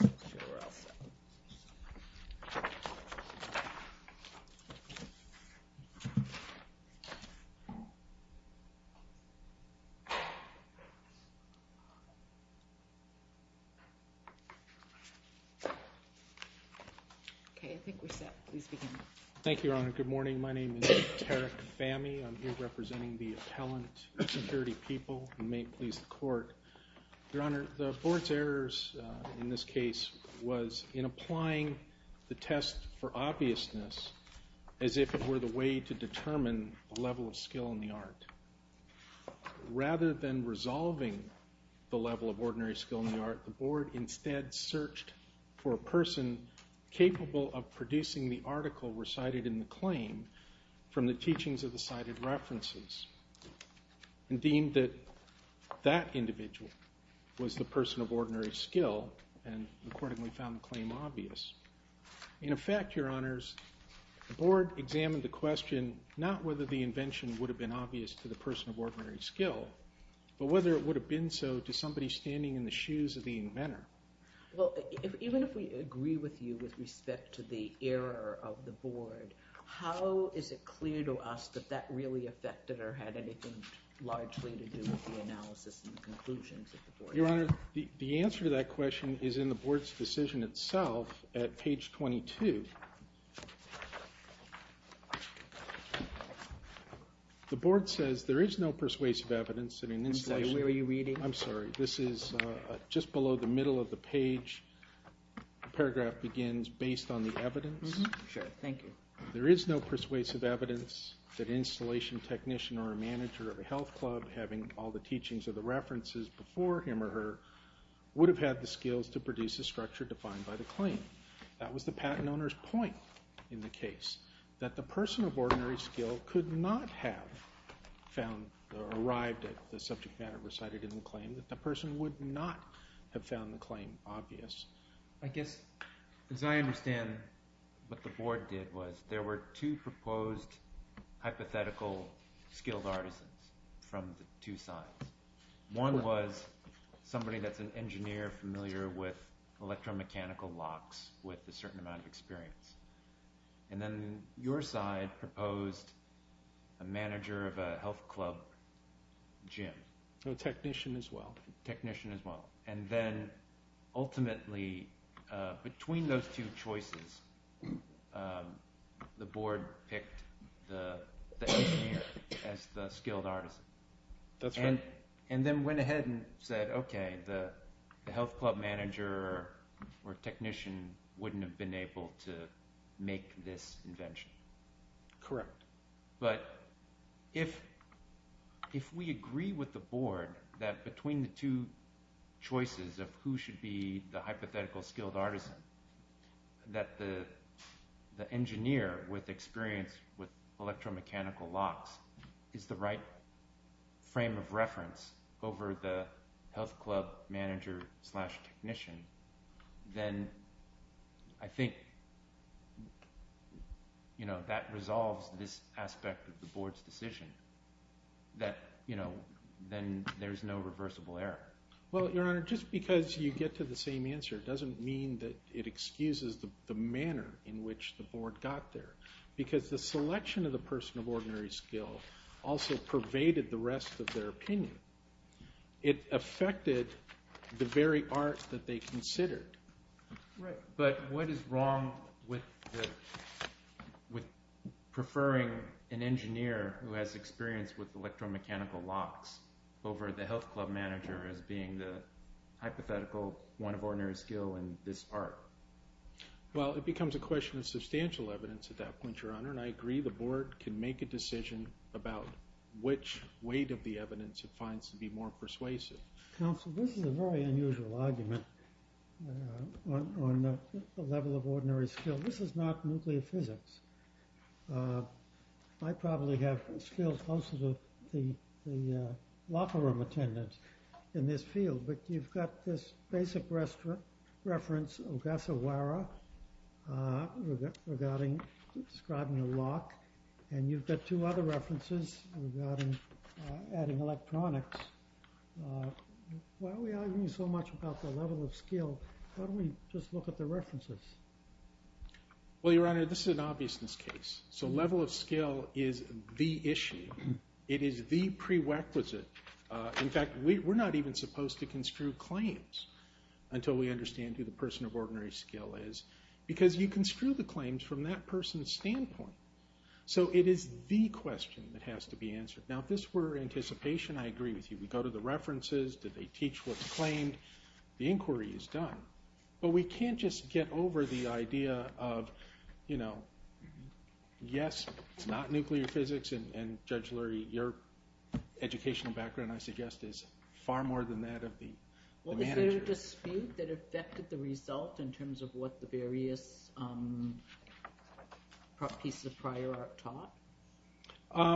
Jill Ross, USA Thank you, Your Honor. Good morning. My name is Tarek Fahmy. I'm here representing the Appellant Security People, and may it please the Court. Your Honor, the Board's errors in this case was in applying the test for obviousness as if it were the way to determine the level of skill in the art. Rather than resolving the level of ordinary skill in the art, the Board instead searched for a person capable of producing the article recited in the claim from the teachings of the cited references, and deemed that that individual was the person of ordinary skill, and accordingly found the claim obvious. In effect, Your Honors, the Board examined the question not whether the invention would have been obvious to the person of ordinary skill, but whether it would have been so to somebody standing in the shoes of the inventor. Well, even if we agree with you with respect to the error of the Board, how is it clear to us that that really affected or had anything largely to do with the analysis and conclusions of the Board? Your Honor, the answer to that question is in the Board's decision itself at page 22. The Board says there is no persuasive evidence that an installation... I'm sorry, where were you reading? I'm sorry. This is just below the middle of the page. The paragraph begins, based on the evidence. Sure. Thank you. There is no persuasive evidence that an installation technician or a manager of a health club, having all the teachings of the references before him or her, would have had the skills to produce the structure defined by the claim. That was the patent owner's point in the case, that the person of ordinary skill could not have found or arrived at the subject matter recited in the claim, that the person would not have found the claim obvious. I guess, as I understand, what the Board did was there were two proposed hypothetical skilled artisans from the two sides. One was somebody that's an engineer familiar with electromechanical locks with a certain amount of experience. And then your side proposed a manager of a health club gym. A technician as well. And then ultimately, between those two choices, the Board picked the engineer as the skilled artisan. That's right. And then went ahead and said, okay, the health club manager or technician wouldn't have been able to make this invention. Correct. But if we agree with the Board that between the two choices of who should be the hypothetical skilled artisan, that the engineer with experience with electromechanical locks is the right frame of reference over the health club manager slash technician, then I think that resolves this aspect of the Board's decision that then there's no reversible error. Well, Your Honor, just because you get to the same answer doesn't mean that it excuses the manner in which the Board got there. Because the selection of the person of ordinary skill also pervaded the rest of their opinion. It affected the very art that they considered. Right. But what is wrong with preferring an engineer who has experience with electromechanical locks over the health club manager as being the hypothetical one of ordinary skill in this art? Well, it becomes a question of substantial evidence at that point, Your Honor. Your Honor, I agree the Board can make a decision about which weight of the evidence it finds to be more persuasive. Counsel, this is a very unusual argument on the level of ordinary skill. This is not nuclear physics. I probably have skills closer to the locker room attendance in this field. But you've got this basic reference, Ogasawara, regarding describing a lock, and you've got two other references regarding adding electronics. Why are we arguing so much about the level of skill? Why don't we just look at the references? Well, Your Honor, this is an obviousness case. So level of skill is the issue. It is the prerequisite. In fact, we're not even supposed to construe claims until we understand who the person of ordinary skill is because you construe the claims from that person's standpoint. So it is the question that has to be answered. Now, if this were anticipation, I agree with you. We go to the references. Did they teach what's claimed? The inquiry is done. But we can't just get over the idea of, you know, yes, it's not nuclear physics, and, Judge Lurie, your educational background, I suggest, is far more than that of the managers. Well, is there a dispute that affected the result in terms of what the various pieces of prior art taught?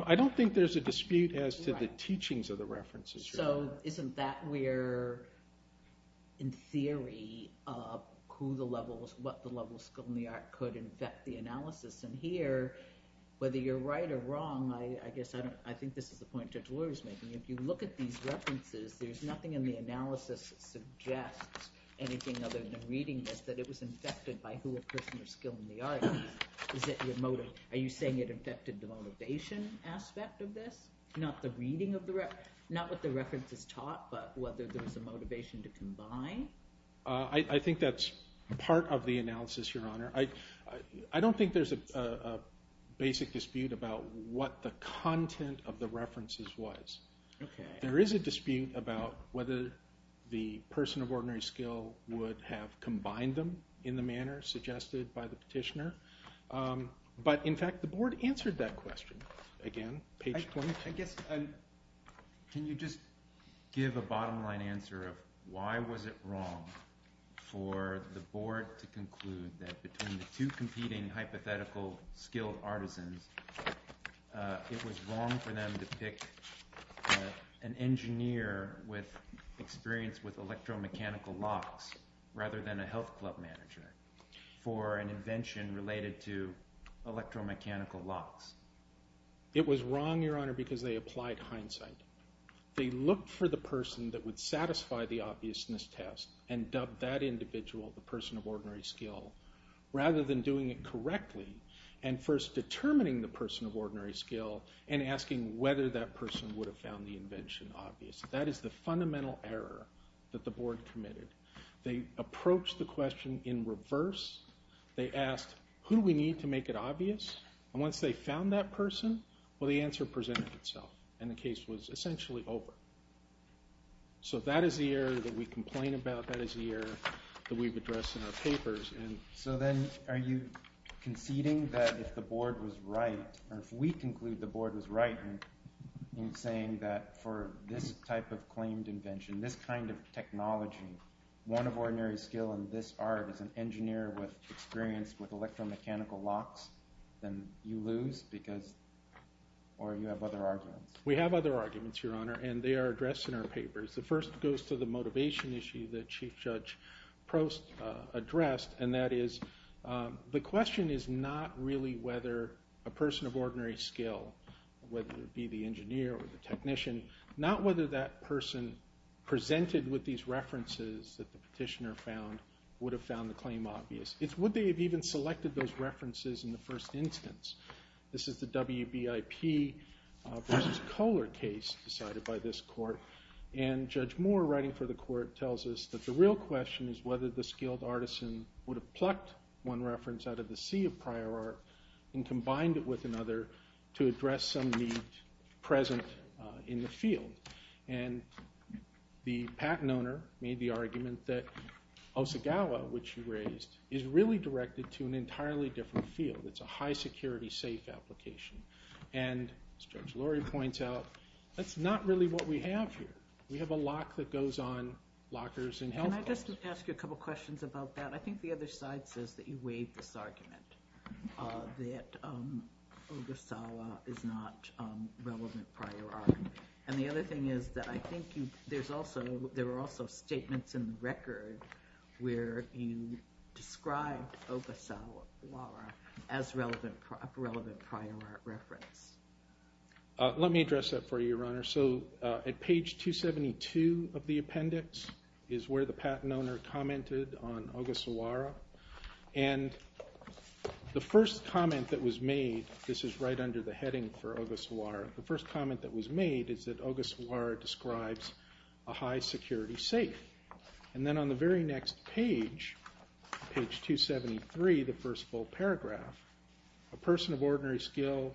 I don't think there's a dispute as to the teachings of the references. So isn't that where, in theory, what the level of skill in the art could affect the analysis? And here, whether you're right or wrong, I guess I think this is the point Judge Lurie is making. If you look at these references, there's nothing in the analysis that suggests anything other than reading this, that it was infected by who a person of skill in the art is. Is it your motive? Are you saying it affected the motivation aspect of this, not the reading of the reference, not what the reference is taught, but whether there was a motivation to combine? I think that's part of the analysis, Your Honor. I don't think there's a basic dispute about what the content of the references was. There is a dispute about whether the person of ordinary skill would have combined them in the manner suggested by the petitioner. But, in fact, the Board answered that question, again, page 22. Can you just give a bottom-line answer of why was it wrong for the Board to conclude that between the two competing hypothetical skilled artisans, it was wrong for them to pick an engineer with experience with electromechanical locks rather than a health club manager for an invention related to electromechanical locks? It was wrong, Your Honor, because they applied hindsight. They looked for the person that would satisfy the obviousness test and dubbed that individual the person of ordinary skill rather than doing it correctly and first determining the person of ordinary skill and asking whether that person would have found the invention obvious. That is the fundamental error that the Board committed. They approached the question in reverse. They asked, who do we need to make it obvious? And once they found that person, well, the answer presented itself, and the case was essentially over. So that is the error that we complain about. That is the error that we've addressed in our papers. So then are you conceding that if the Board was right, or if we conclude the Board was right in saying that for this type of claimed invention, this kind of technology, one of ordinary skill in this art is an engineer with experience with electromechanical locks, then you lose or you have other arguments? We have other arguments, Your Honor, and they are addressed in our papers. The first goes to the motivation issue that Chief Judge Prost addressed, and that is the question is not really whether a person of ordinary skill, whether it be the engineer or the technician, not whether that person presented with these references that the petitioner found would have found the claim obvious. It's would they have even selected those references in the first instance. This is the WBIP versus Kohler case decided by this court, and Judge Moore writing for the court tells us that the real question is whether the skilled artisan would have plucked one reference out of the sea of prior art and combined it with another to address some need present in the field. And the patent owner made the argument that Osagawa, which you raised, is really directed to an entirely different field. It's a high security safe application. And as Judge Lurie points out, that's not really what we have here. We have a lock that goes on lockers and health locks. Can I just ask you a couple questions about that? I think the other side says that you waive this argument, that Ogasawa is not relevant prior art. And the other thing is that I think there were also statements in the record where you described Ogasawa as a relevant prior art reference. Let me address that for you, Your Honor. So at page 272 of the appendix is where the patent owner commented on Ogasawa. And the first comment that was made, this is right under the heading for Ogasawa, the first comment that was made is that Ogasawa describes a high security safe. And then on the very next page, page 273, the first full paragraph, a person of ordinary skill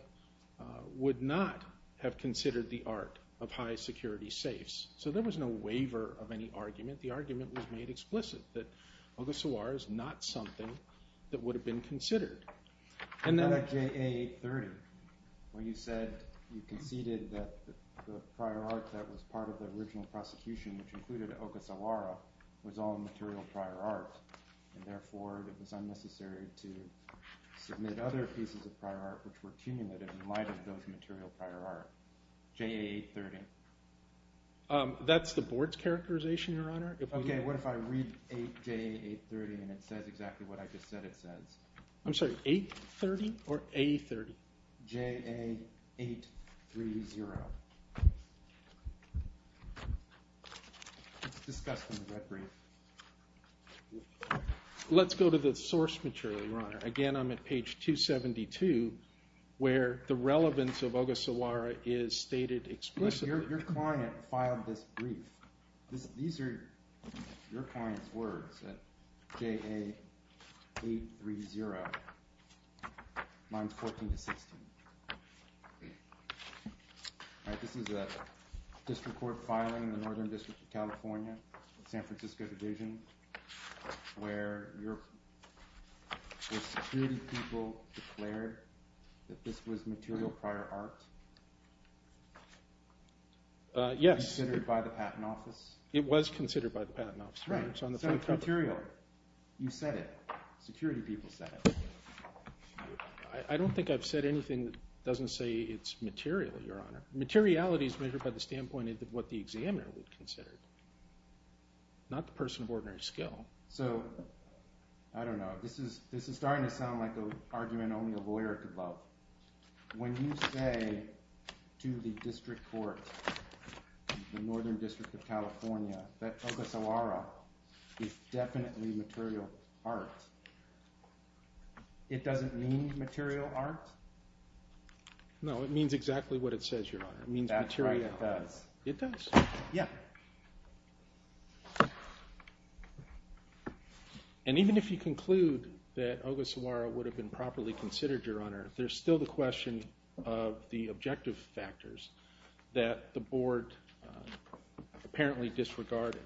would not have considered the art of high security safes. So there was no waiver of any argument. The argument was made explicit that Ogasawa is not something that would have been considered. And then at JA 830, where you said you conceded that the prior art that was part of the original prosecution, which included Ogasawa, was all material prior art. And therefore, it was unnecessary to submit other pieces of prior art which were cumulative in light of those material prior art. JA 830. That's the board's characterization, Your Honor. Okay, what if I read JA 830 and it says exactly what I just said it says? I'm sorry, 830 or A30? JA 830. It's discussed in the red brief. Let's go to the source material, Your Honor. Again, I'm at page 272, where the relevance of Ogasawa is stated explicitly. Your client filed this brief. These are your client's words at JA 830, lines 14 to 16. All right, this is a district court filing in the Northern District of California, San Francisco Division, where the security people declared that this was material prior art. Yes. Considered by the Patent Office? It was considered by the Patent Office. Right, so it's material. You said it. Security people said it. I don't think I've said anything that doesn't say it's material, Your Honor. Materiality is measured by the standpoint of what the examiner would consider it, not the person of ordinary skill. So, I don't know. This is starting to sound like an argument only a lawyer could love. When you say to the district court, the Northern District of California, that Ogasawa is definitely material art, it doesn't mean material art? No, it means exactly what it says, Your Honor. It means material. That's right, it does. It does? Yeah. And even if you conclude that Ogasawa would have been properly considered, Your Honor, there's still the question of the objective factors that the board apparently disregarded.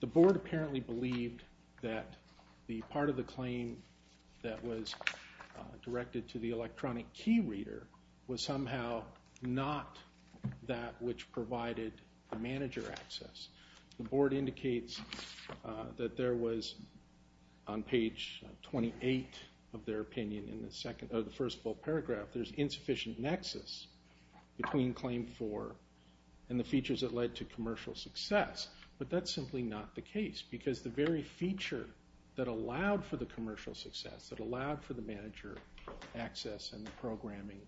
The board apparently believed that the part of the claim that was directed to the electronic key reader was somehow not that which provided the manager access. The board indicates that there was, on page 28 of their opinion in the first full paragraph, there's insufficient nexus between Claim 4 and the features that led to commercial success, but that's simply not the case because the very feature that allowed for the commercial success, that allowed for the manager access and the programming,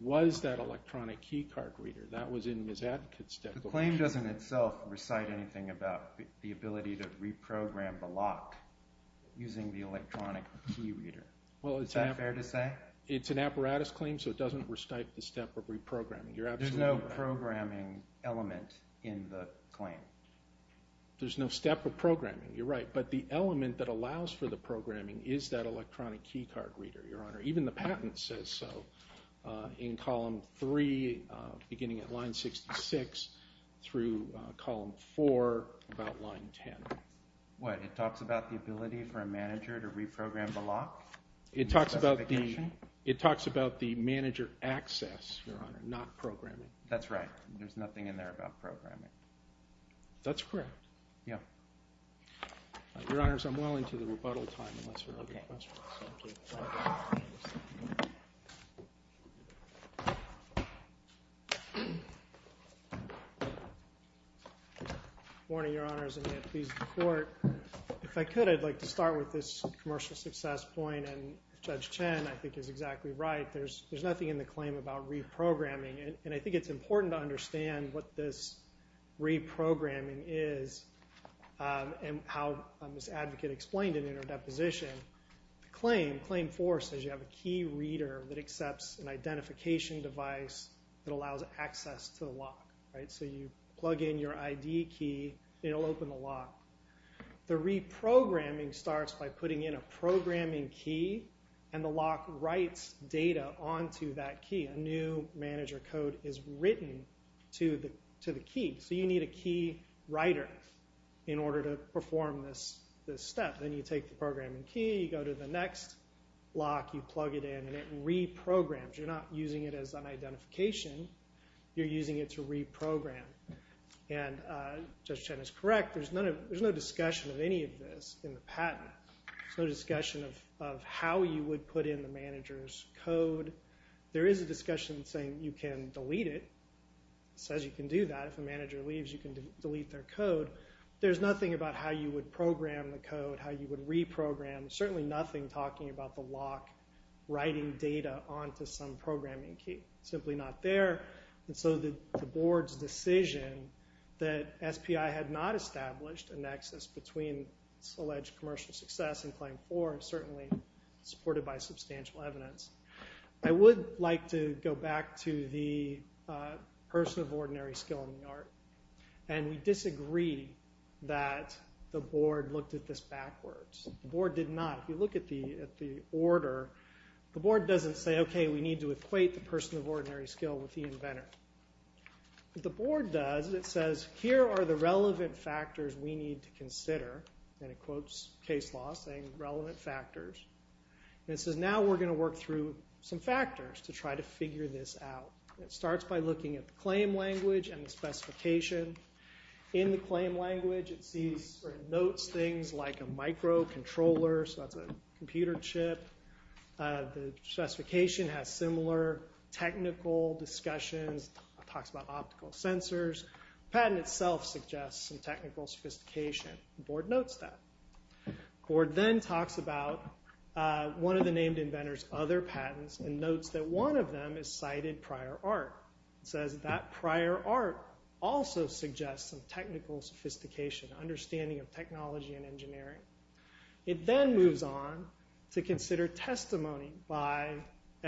was that electronic key card reader. That was in Ms. Advocate's statement. The claim doesn't itself recite anything about the ability to reprogram the lock using the electronic key reader. Is that fair to say? It's an apparatus claim, so it doesn't recite the step of reprogramming. There's no programming element in the claim. There's no step of programming, you're right, but the element that allows for the programming is that electronic key card reader, Your Honor. Even the patent says so in column 3 beginning at line 66 through column 4 about line 10. What, it talks about the ability for a manager to reprogram the lock? It talks about the manager access, Your Honor, not programming. That's right. There's nothing in there about programming. That's correct. Yeah. Your Honors, I'm well into the rebuttal time unless there are other questions. Thank you. Good morning, Your Honors, and may it please the Court. If I could, I'd like to start with this commercial success point, and Judge Chen, I think, is exactly right. There's nothing in the claim about reprogramming, and I think it's important to understand what this reprogramming is and how Ms. Advocate explained it in her deposition. The claim, Claim 4, says you have a key reader that accepts an identification device that allows access to the lock. So you plug in your ID key, it'll open the lock. The reprogramming starts by putting in a programming key, and the lock writes data onto that key. A new manager code is written to the key. So you need a key writer in order to perform this step. Then you take the programming key, you go to the next lock, you plug it in, and it reprograms. You're not using it as an identification. You're using it to reprogram. And Judge Chen is correct. There's no discussion of any of this in the patent. There's no discussion of how you would put in the manager's code. There is a discussion saying you can delete it. It says you can do that. If a manager leaves, you can delete their code. There's nothing about how you would program the code, how you would reprogram. There's certainly nothing talking about the lock writing data onto some programming key. It's simply not there. And so the board's decision that SPI had not established a nexus between alleged commercial success and Claim 4 is certainly supported by substantial evidence. I would like to go back to the person of ordinary skill in the art. And we disagree that the board looked at this backwards. The board did not. If you look at the order, the board doesn't say, okay, we need to equate the person of ordinary skill with the inventor. What the board does, it says here are the relevant factors we need to consider. And it quotes case law saying relevant factors. And it says now we're going to work through some factors to try to figure this out. It starts by looking at the claim language and the specification. In the claim language, it notes things like a microcontroller, so that's a computer chip. The specification has similar technical discussions. It talks about optical sensors. The patent itself suggests some technical sophistication. The board notes that. The board then talks about one of the named inventors' other patents and notes that one of them is cited prior art. It says that prior art also suggests some technical sophistication, understanding of technology and engineering. It then moves on to consider testimony by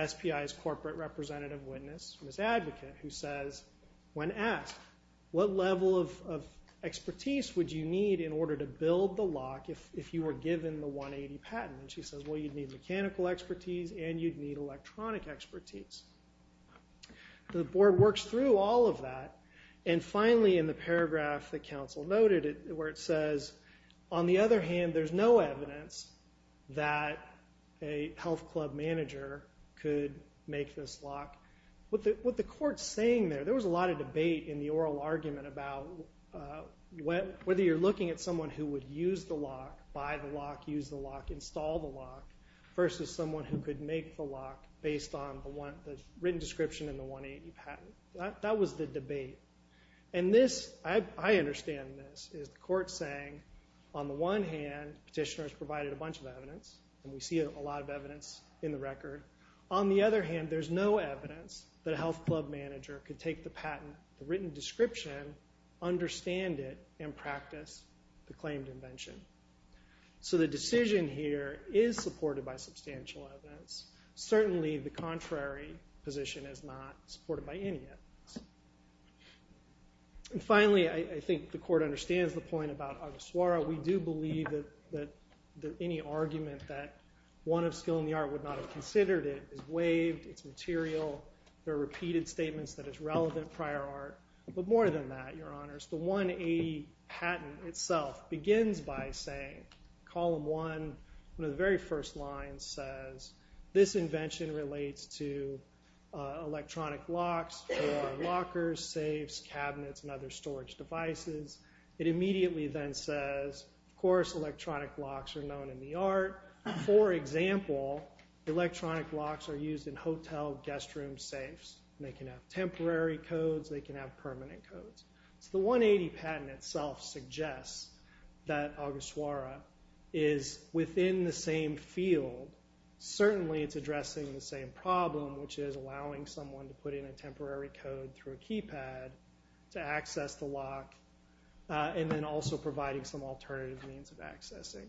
SPI's corporate representative witness, Ms. Advocate, who says, when asked, what level of expertise would you need in order to build the lock if you were given the 180 patent? And she says, well, you'd need mechanical expertise and you'd need electronic expertise. The board works through all of that. And finally, in the paragraph that counsel noted where it says, on the other hand, there's no evidence that a health club manager could make this lock. What the court's saying there, there was a lot of debate in the oral argument about whether you're looking at someone who would use the lock, buy the lock, use the lock, install the lock, versus someone who could make the lock based on the written description in the 180 patent. That was the debate. And this, I understand this, is the court saying, on the one hand, petitioners provided a bunch of evidence, and we see a lot of evidence in the record. On the other hand, there's no evidence that a health club manager could take the patent, the written description, understand it, and practice the claimed invention. So the decision here is supported by substantial evidence. Certainly the contrary position is not supported by any evidence. And finally, I think the court understands the point about Argosuara. We do believe that any argument that one of skill in the art would not have considered it is waived, it's material, there are repeated statements that it's relevant prior art. But more than that, Your Honors, the 180 patent itself begins by saying, column one, one of the very first lines says, this invention relates to electronic locks, lockers, safes, cabinets, and other storage devices. It immediately then says, of course, electronic locks are known in the art. For example, electronic locks are used in hotel guest room safes. They can have temporary codes, they can have permanent codes. So the 180 patent itself suggests that Argosuara is within the same field. Certainly it's addressing the same problem, which is allowing someone to put in a temporary code through a keypad to access the lock, and then also providing some alternative means of accessing.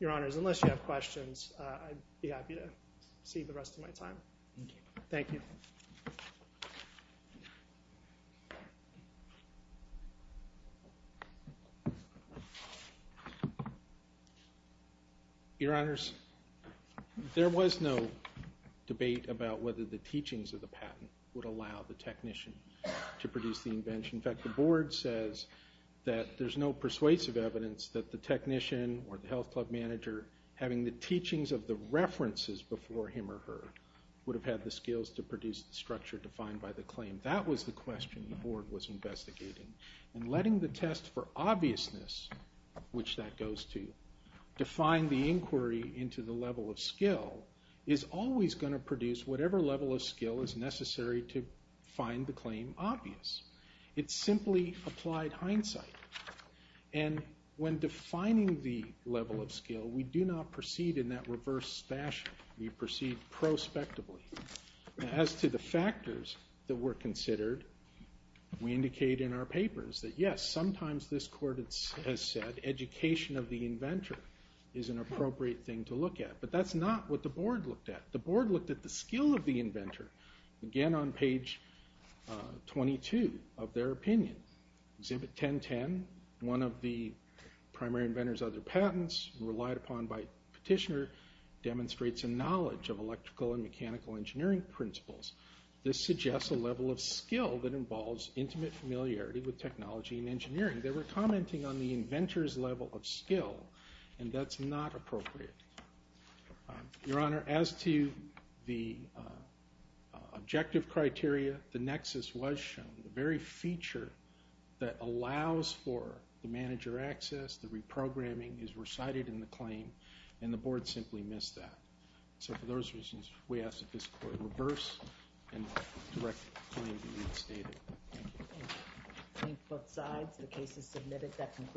Your Honors, unless you have questions, I'd be happy to cede the rest of my time. Thank you. Your Honors, there was no debate about whether the teachings of the patent would allow the technician to produce the invention. In fact, the Board says that there's no persuasive evidence that the technician or the health club manager, having the teachings of the references before him or her, would have had the skills to produce the structure defined by the claim. That was the question the Board was investigating. And letting the test for obviousness, which that goes to, define the inquiry into the level of skill, is always going to produce whatever level of skill is necessary to find the claim obvious. It's simply applied hindsight. And when defining the level of skill, we do not proceed in that reverse fashion. We proceed prospectively. As to the factors that were considered, we indicate in our papers that yes, sometimes this court has said education of the inventor is an appropriate thing to look at. But that's not what the Board looked at. The Board looked at the skill of the inventor, again on page 22 of their opinion, Exhibit 1010, one of the primary inventor's other patents, relied upon by Petitioner, demonstrates a knowledge of electrical and mechanical engineering principles. This suggests a level of skill that involves intimate familiarity with technology and engineering. They were commenting on the inventor's level of skill, and that's not appropriate. Your Honor, as to the objective criteria, the nexus was shown. The very feature that allows for the manager access, the reprogramming, is recited in the claim, and the Board simply missed that. So for those reasons, we ask that this Court reverse and direct the claim to be restated. Thank you. Thank you. Both sides, the case is submitted.